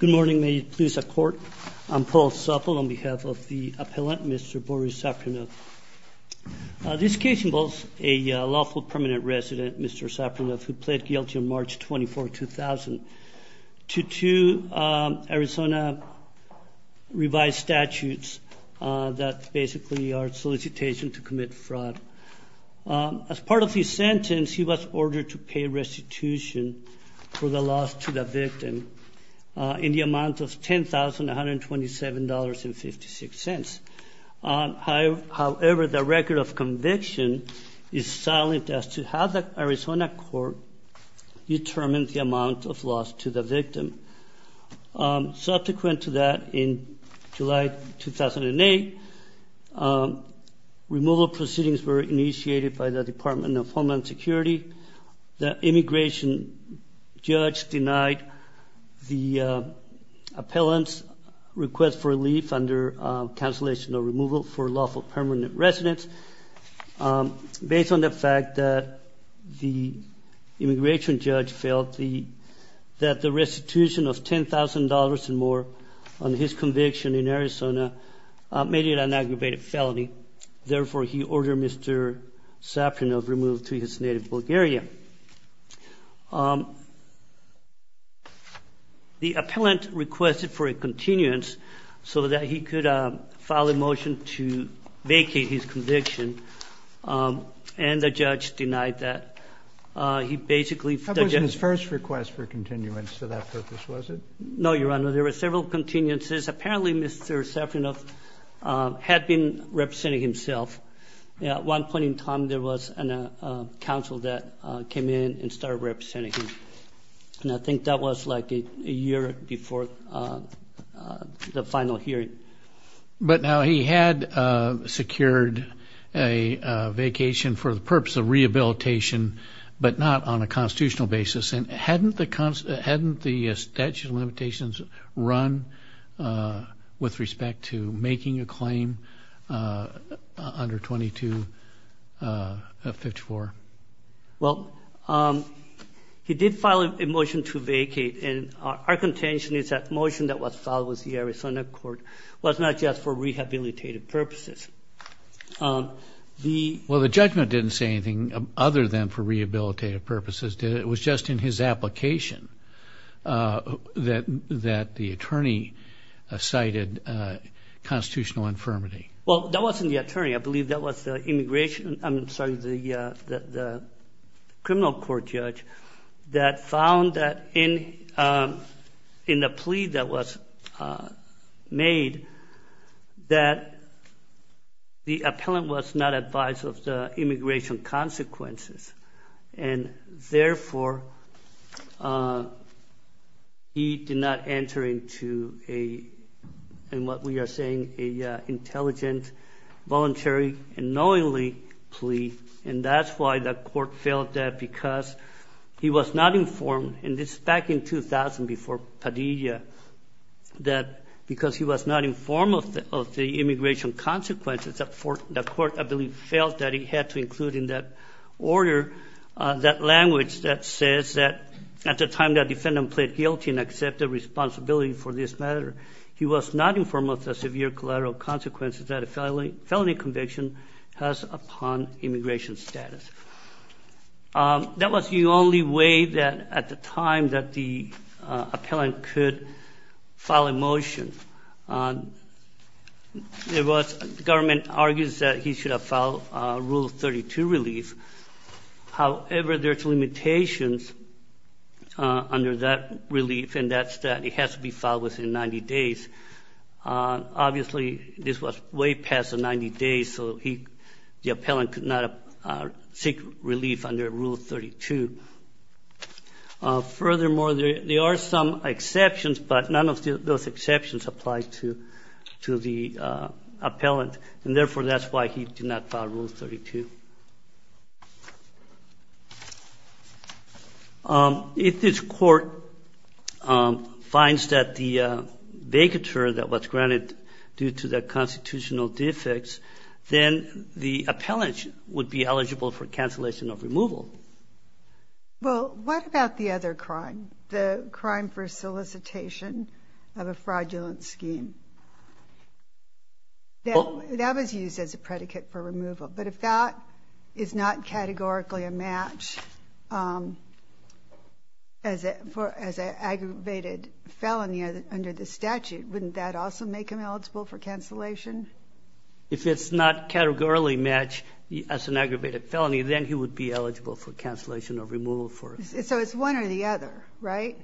Good morning. May it please the court. I'm Paul Supple on behalf of the appellant Mr. Boris Zaprianov. This case involves a lawful permanent resident, Mr. Zaprianov, who pled guilty on March 24, 2000 to two Arizona revised statutes that basically are solicitation to the institution for the loss to the victim in the amount of $10,127.56. However, the record of conviction is silent as to how the Arizona court determined the amount of loss to the victim. Subsequent to that, in July 2008, removal proceedings were initiated by the Department of Homeland Security. The immigration judge denied the appellant's request for relief under cancellation of removal for lawful permanent residents. Based on the fact that the immigration judge felt that the restitution of the person was not sufficient, the appellant issued an aggravated felony. Therefore, he ordered Mr. Zaprianov removed to his native Bulgaria. The appellant requested for a continuance so that he could file a motion to vacate his conviction, and the judge denied that. He basically suggested... How was his first request for continuance for that purpose, was it? No, Your Honor. There were several continuances. Apparently, Mr. Zaprianov had been representing himself. At one point in time, there was a counsel that came in and started representing him. And I think that was like a year before the final hearing. But now he had secured a vacation for the purpose of rehabilitation, but not on a constitutional basis. And hadn't the statute of limitations run with respect to making a claim under 2254? Well, he did file a motion to vacate. And our contention is that the motion that was filed with the Arizona court was not just for rehabilitative purposes. Well, the judgment didn't say anything other than for rehabilitative purposes. It was just in his application that the attorney cited constitutional infirmity. Well, that wasn't the attorney. I believe that was the immigration... I'm sorry, the criminal court judge that found that in the plea that was made, that the appellant was not advised of the immigration consequences. And therefore, he did not enter into a, in what we are saying, an intelligent, voluntary, and knowingly plea. And that's why the court felt that because he was not informed, and this is back in 2000 before Padilla, that because he was not informed of the immigration consequences, the court I believe felt that he had to include in that order that language that says that at the time that defendant pled guilty and accepted responsibility for this matter, he was not informed of the severe collateral consequences that a felony conviction has upon immigration status. That was the only way that at the time that the appellant could file a motion. The government argues that he should have filed Rule 32 relief. However, there's limitations under that relief, and that's that it has to be filed within 90 days. Obviously, this was way past the 90 days, so the appellant could not seek relief under Rule 32. Furthermore, there are some exceptions, but none of those exceptions apply to the appellant. And therefore, that's why he did not file Rule 32. If this Court finds that the vacatur that was granted due to the constitutional defects, then the appellant would be eligible for cancellation of removal. Sotomayor Well, what about the other crime, the crime for solicitation of a fraudulent scheme? That was used as a predicate for removal. But if that is not categorically a match as an aggravated felony under the statute, wouldn't that also make him eligible for cancellation? If it's not categorically matched as an aggravated felony, then he would be eligible for cancellation or removal for it. So it's one or the other, right?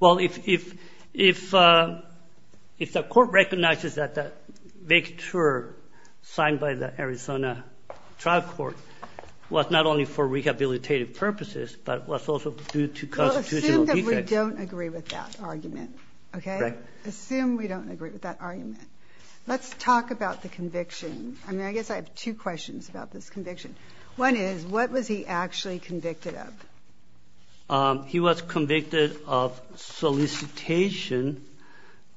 Well, if the Court recognizes that the vacatur signed by the Arizona trial court was not only for rehabilitative purposes, but was also due to constitutional defects. We'll assume that we don't agree with that argument, okay? Right. Assume we don't agree with that argument. Let's talk about the conviction. I mean, I guess I have two questions about this conviction. One is, what was he actually convicted of? He was convicted of solicitation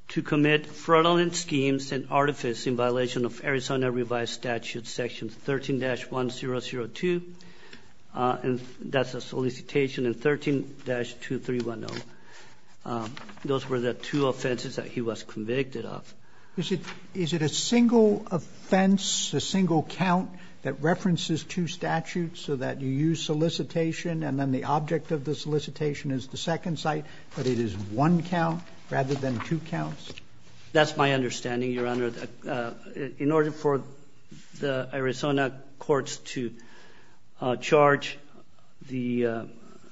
to commit fraudulent schemes and artifice in violation of Arizona revised statute section 13-1002, and that's a solicitation in 13-2310. Those were the two offenses that he was convicted of. Is it a single offense, a single count that references two statutes so that you use solicitation and then the object of the solicitation is the second site, but it is one count rather than two counts? That's my understanding, Your Honor. In order for the Arizona courts to charge the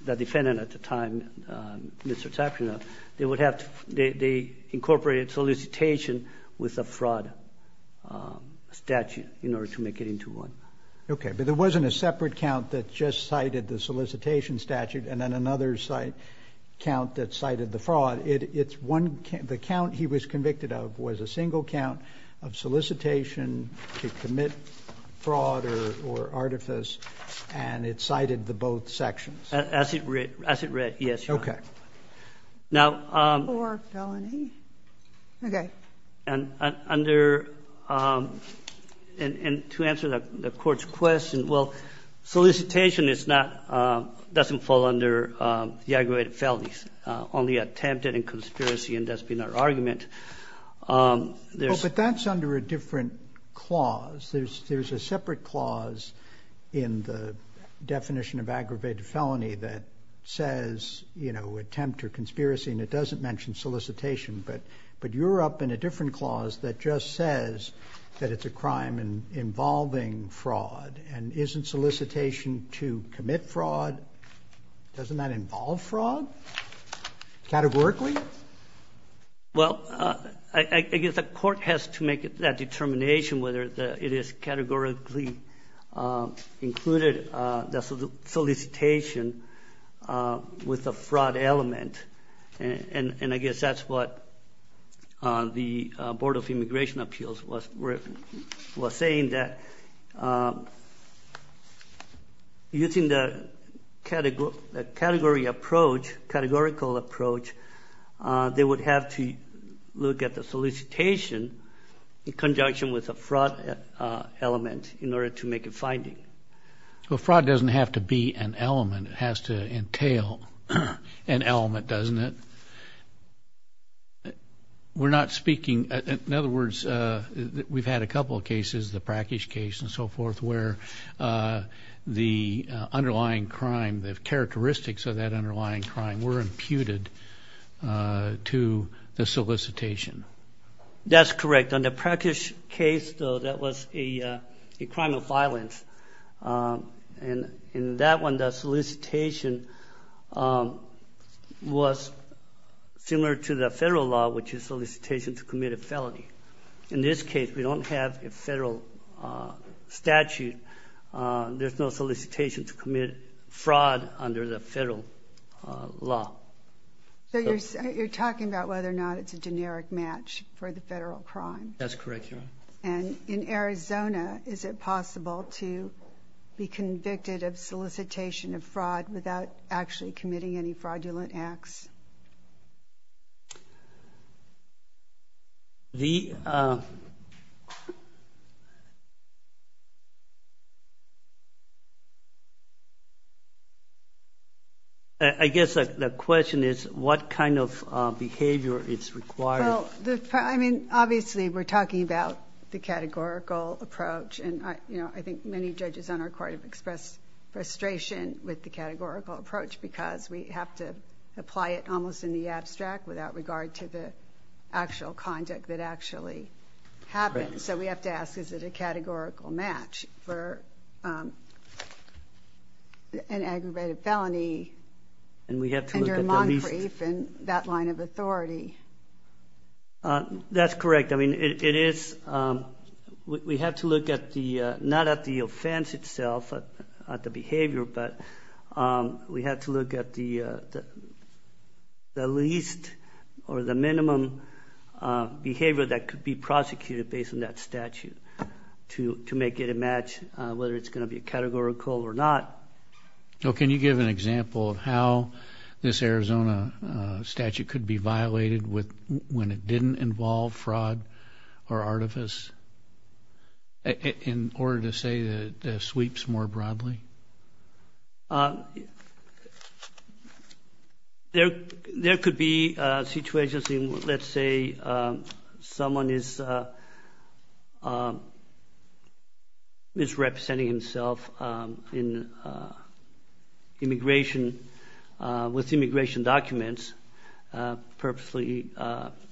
defendant at the time, Mr. Tapia, they would have to incorporate solicitation with a fraud statute in order to make it into one. Okay. But there wasn't a separate count that just cited the solicitation statute and then another count that cited the fraud. It's one count. The count he was convicted of was a single count of solicitation to commit fraud or artifice, and it cited the both sections. As it read. As it read, yes, Your Honor. Okay. Now, under and to answer the Court's question, well, solicitation is not, doesn't fall under the aggravated felonies, only attempted and conspiracy, and that's been our argument. But that's under a different clause. There's a separate clause in the definition of aggravated felony that says, you know, attempt or conspiracy, and it doesn't mention solicitation. But you're up in a different clause that just says that it's a crime involving fraud, and isn't solicitation to commit fraud, doesn't that involve fraud categorically? Well, I guess the Court has to make that determination whether it is categorically included, the solicitation with a fraud element, and I guess that's what the Board of Immigration Appeals was saying, that using the category approach, categorical approach, they would have to look at the solicitation in conjunction with a fraud element in order to make a finding. Well, fraud doesn't have to be an element. It has to entail an element, doesn't it? We're not speaking, in other words, we've had a couple of cases, the Prakash case and so forth, where the underlying crime, the characteristics of that underlying crime were imputed to the solicitation. That's correct. On the Prakash case, though, that was a crime of violence. In that one, the solicitation was similar to the federal law, which is solicitation to commit a felony. In this case, we don't have a federal statute. There's no solicitation to commit fraud under the federal law. So you're talking about whether or not it's a generic match for the federal crime. That's correct, Your Honor. And in Arizona, is it possible to be convicted of solicitation of fraud without actually committing any fraudulent acts? I guess the question is, what kind of behavior is required? Well, I mean, obviously, we're talking about the categorical approach. And I think many judges on our court have expressed frustration with the categorical approach because we have to apply it almost in the abstract without regard to the actual conduct that actually happens. So we have to ask, is it a categorical match for an aggravated felony under Moncrief and that line of authority? That's correct. I mean, it is. We have to look not at the offense itself, at the behavior, but we have to look at the least or the minimum behavior that could be prosecuted based on that statute to make it a match, whether it's going to be categorical or not. Can you give an example of how this Arizona statute could be violated when it didn't involve fraud or artifice, in order to say that it sweeps more broadly? There could be situations in which, let's say, someone is misrepresenting himself with immigration documents, purposely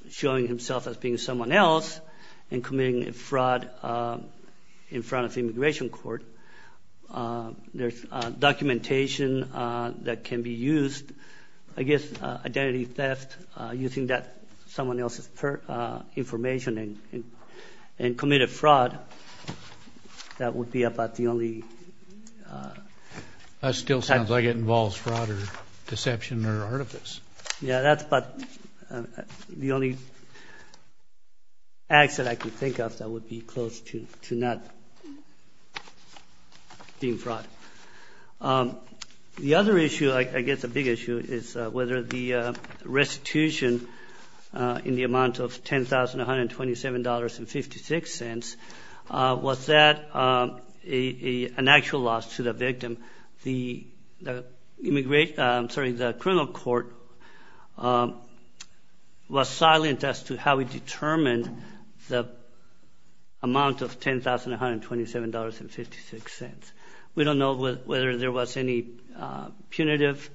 showing himself as being someone else and committing fraud in front of the immigration court. There's documentation that can be used, I guess, identity theft, using that someone else's information and committing fraud. That would be about the only- That still sounds like it involves fraud or deception or artifice. Yeah, that's about the only accident I can think of that would be close to not being fraud. The other issue, I guess a big issue, is whether the restitution in the amount of $10,127.56, was that an actual loss to the victim? The criminal court was silent as to how we determined the amount of $10,127.56. We don't know whether there was any punitive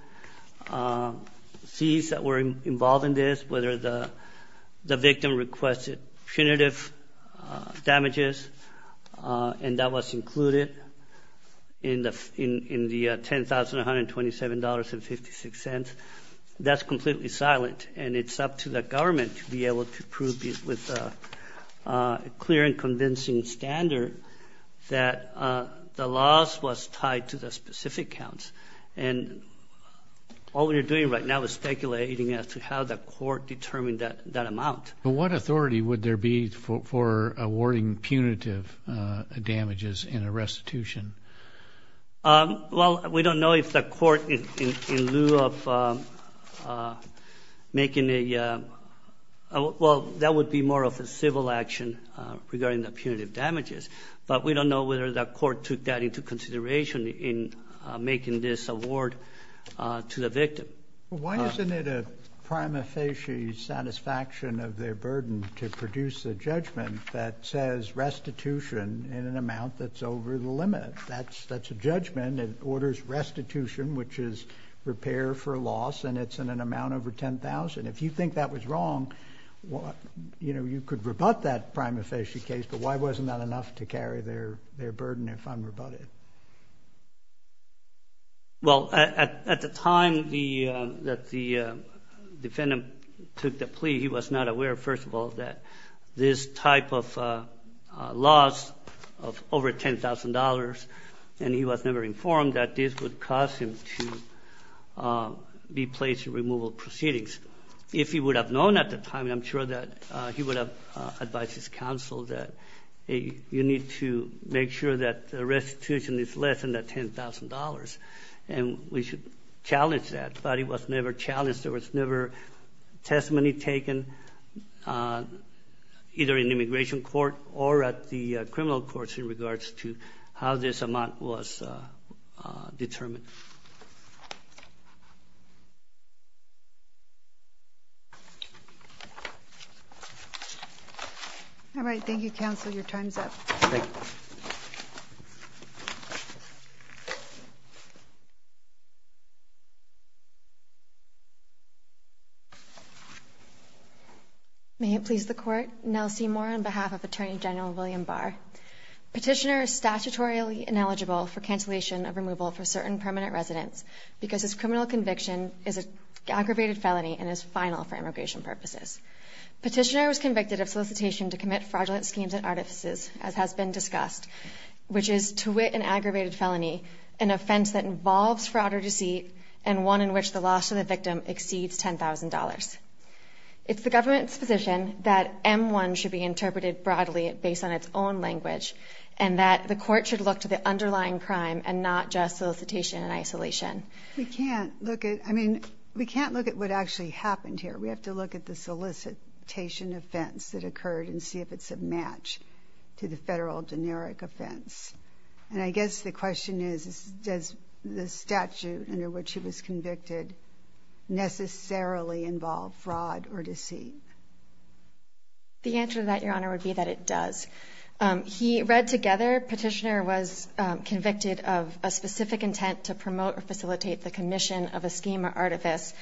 fees that were involved in this, whether the victim requested punitive damages, and that was included in the $10,127.56. That's completely silent, and it's up to the government to be able to prove this with a clear and convincing standard that the loss was tied to the specific counts. And all we are doing right now is speculating as to how the court determined that amount. What authority would there be for awarding punitive damages in a restitution? Well, we don't know if the court, in lieu of making a- Well, that would be more of a civil action regarding the punitive damages, but we don't know whether the court took that into consideration in making this award to the victim. Why isn't it a prima facie satisfaction of their burden to produce a judgment that says restitution in an amount that's over the limit? That's a judgment that orders restitution, which is repair for loss, and it's in an amount over $10,000. If you think that was wrong, you know, you could rebut that prima facie case, but why wasn't that enough to carry their burden if unrebutted? Well, at the time that the defendant took the plea, he was not aware, first of all, that this type of loss of over $10,000, and he was never informed that this would cause him to be placed in removal proceedings. If he would have known at the time, I'm sure that he would have advised his counsel that you need to make sure that the restitution is less than that $10,000, and we should challenge that. But it was never challenged. There was never testimony taken either in immigration court or at the criminal courts in regards to how this amount was determined. Thank you. All right. Thank you, counsel. Your time is up. Thank you. May it please the Court. Nell Seymour on behalf of Attorney General William Barr. Petitioner is statutorily ineligible for cancellation of removal for certain permanent residents because his criminal conviction is an aggravated felony and is final for immigration purposes. Petitioner was convicted of solicitation to commit fraudulent schemes and artifices, as has been discussed, which is, to wit, an aggravated felony, an offense that involves fraud or deceit and one in which the loss of the victim exceeds $10,000. It's the government's position that M-1 should be interpreted broadly based on its own language and that the court should look to the underlying crime and not just solicitation and isolation. We can't look at what actually happened here. We have to look at the solicitation offense that occurred and see if it's a match to the federal generic offense. And I guess the question is, does the statute under which he was convicted necessarily involve fraud or deceit? The answer to that, Your Honor, would be that it does. He read together Petitioner was convicted of a specific intent to promote or facilitate the commission of a scheme or artifice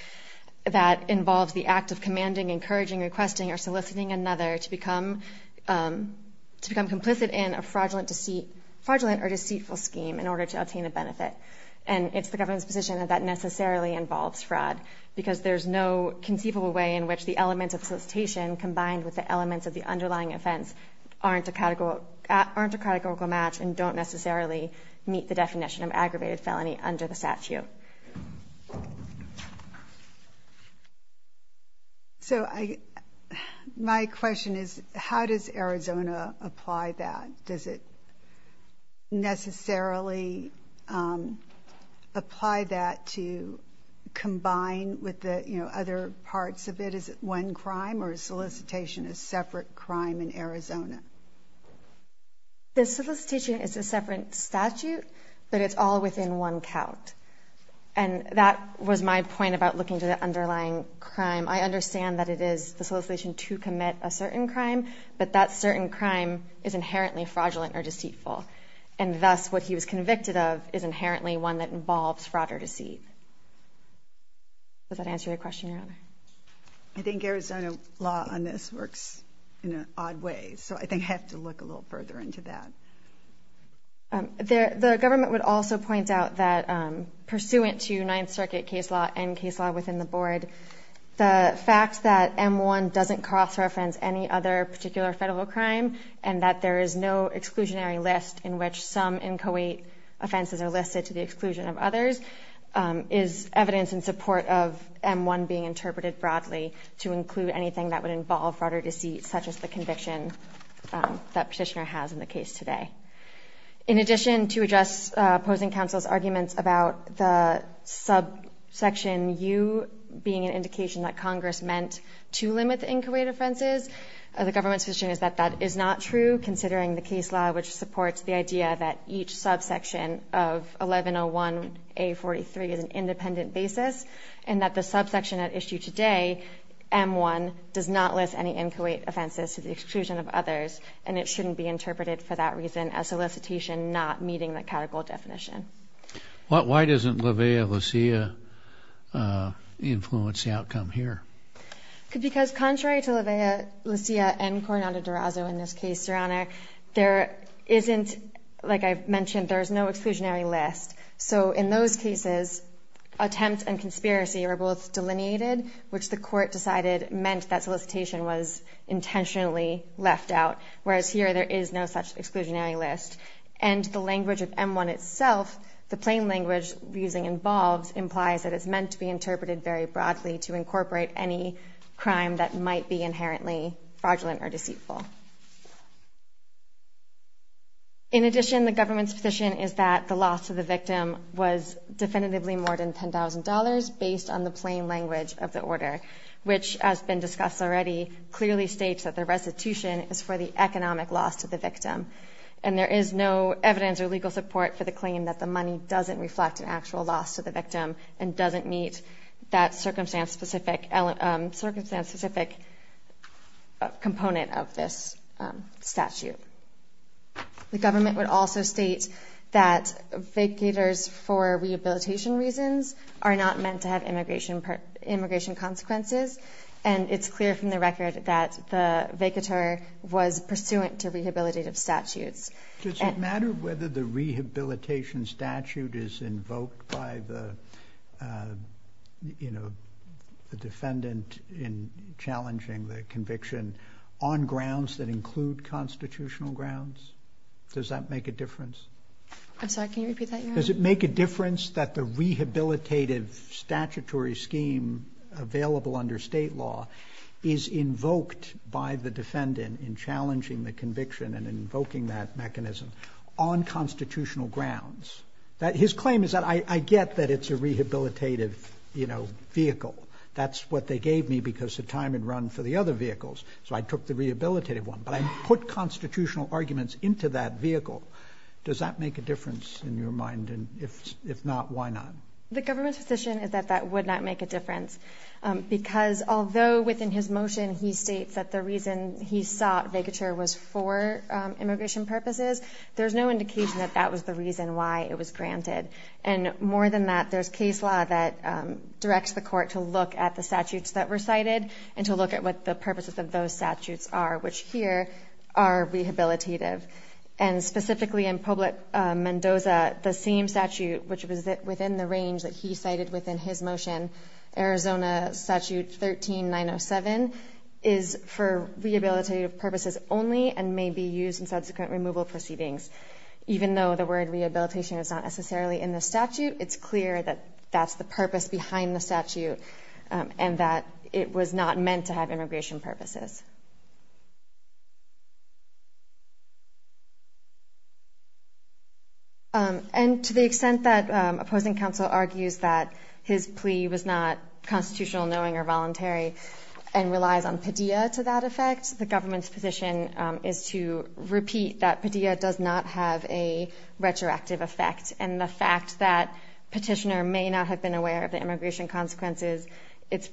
that involves the act of commanding, encouraging, requesting, or soliciting another to become complicit in a fraudulent or deceitful scheme in order to obtain a benefit. And it's the government's position that that necessarily involves fraud because there's no conceivable way in which the elements of solicitation combined with the elements of the underlying offense aren't a categorical match and don't necessarily meet the definition of aggravated felony under the statute. Thank you. So my question is, how does Arizona apply that? Does it necessarily apply that to combine with the other parts of it? Is it one crime or is solicitation a separate crime in Arizona? The solicitation is a separate statute, but it's all within one count. And that was my point about looking to the underlying crime. I understand that it is the solicitation to commit a certain crime, but that certain crime is inherently fraudulent or deceitful, and thus what he was convicted of is inherently one that involves fraud or deceit. Does that answer your question, Your Honor? I think Arizona law on this works in an odd way. So I think I have to look a little further into that. The government would also point out that, pursuant to Ninth Circuit case law and case law within the board, the fact that M-1 doesn't cross-reference any other particular federal crime and that there is no exclusionary list in which some inchoate offenses are listed to the exclusion of others is evidence in support of M-1 being interpreted broadly to include anything that would involve fraud or deceit, such as the conviction that Petitioner has in the case today. In addition, to address opposing counsel's arguments about the subsection U being an indication that Congress meant to limit the inchoate offenses, the government's position is that that is not true, considering the case law which supports the idea that each subsection of 1101A43 is an independent basis, and that the subsection at issue today, M-1, does not list any inchoate offenses to the exclusion of others, and it shouldn't be interpreted for that reason as solicitation not meeting the categorical definition. Why doesn't Levea Lecia influence the outcome here? Because contrary to Levea Lecia and Coronado Durazo in this case, Your Honor, there isn't, like I mentioned, there is no exclusionary list. So in those cases, attempts and conspiracy are both delineated, which the court decided meant that solicitation was intentionally left out, whereas here there is no such exclusionary list. And the language of M-1 itself, the plain language we're using involves, implies that it's meant to be interpreted very broadly to incorporate any crime that might be inherently fraudulent or deceitful. In addition, the government's position is that the loss to the victim was definitively more than $10,000 based on the plain language of the order, which, as been discussed already, clearly states that the restitution is for the economic loss to the victim. And there is no evidence or legal support for the claim that the money doesn't reflect an actual loss to the victim and doesn't meet that circumstance-specific component of this. statute. The government would also state that vacators for rehabilitation reasons are not meant to have immigration consequences, and it's clear from the record that the vacator was pursuant to rehabilitative statutes. Does it matter whether the rehabilitation statute is invoked by the, you know, the defendant in challenging the conviction on grounds that include constitutional grounds? Does that make a difference? I'm sorry, can you repeat that? Does it make a difference that the rehabilitative statutory scheme available under state law is invoked by the defendant in challenging the conviction and invoking that mechanism on constitutional grounds? His claim is that I get that it's a rehabilitative, you know, vehicle. That's what they gave me because the time had run for the other vehicles, so I took the rehabilitative one, but I put constitutional arguments into that vehicle. Does that make a difference in your mind? And if not, why not? The government's position is that that would not make a difference because although within his motion he states that the reason he sought vacature was for immigration purposes, there's no indication that that was the reason why it was granted. And more than that, there's case law that directs the court to look at the statutes that were cited and to look at what the purposes of those statutes are, which here are rehabilitative. And specifically in Publick-Mendoza, the same statute, which was within the range that he cited within his motion, Arizona Statute 13907, is for rehabilitative purposes only and may be used in subsequent removal proceedings. Even though the word rehabilitation is not necessarily in the statute, it's clear that that's the purpose behind the statute and that it was not meant to have immigration purposes. And to the extent that opposing counsel argues that his plea was not constitutional, knowing, or voluntary and relies on pedia to that effect, the government's position is to repeat that pedia does not have a retroactive effect. And the fact that petitioner may not have been aware of the immigration consequences, it's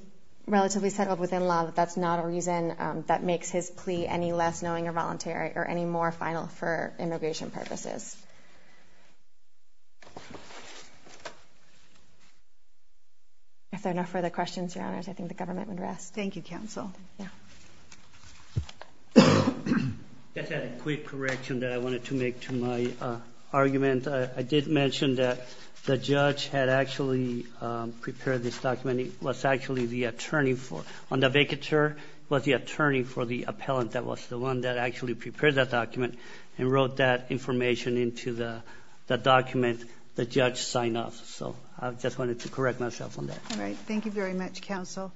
relatively settled within law that that's not a reason that makes his plea any less knowing or voluntary or any more final for immigration purposes. If there are no further questions, Your Honors, I think the government would rest. Thank you, counsel. I just had a quick correction that I wanted to make to my argument. I did mention that the judge had actually prepared this document. He was actually the attorney for it. On the vacatur, he was the attorney for the appellant that was the one that actually prepared that document and wrote that information into the statute. The judge signed off. So I just wanted to correct myself on that. All right. Thank you very much, counsel.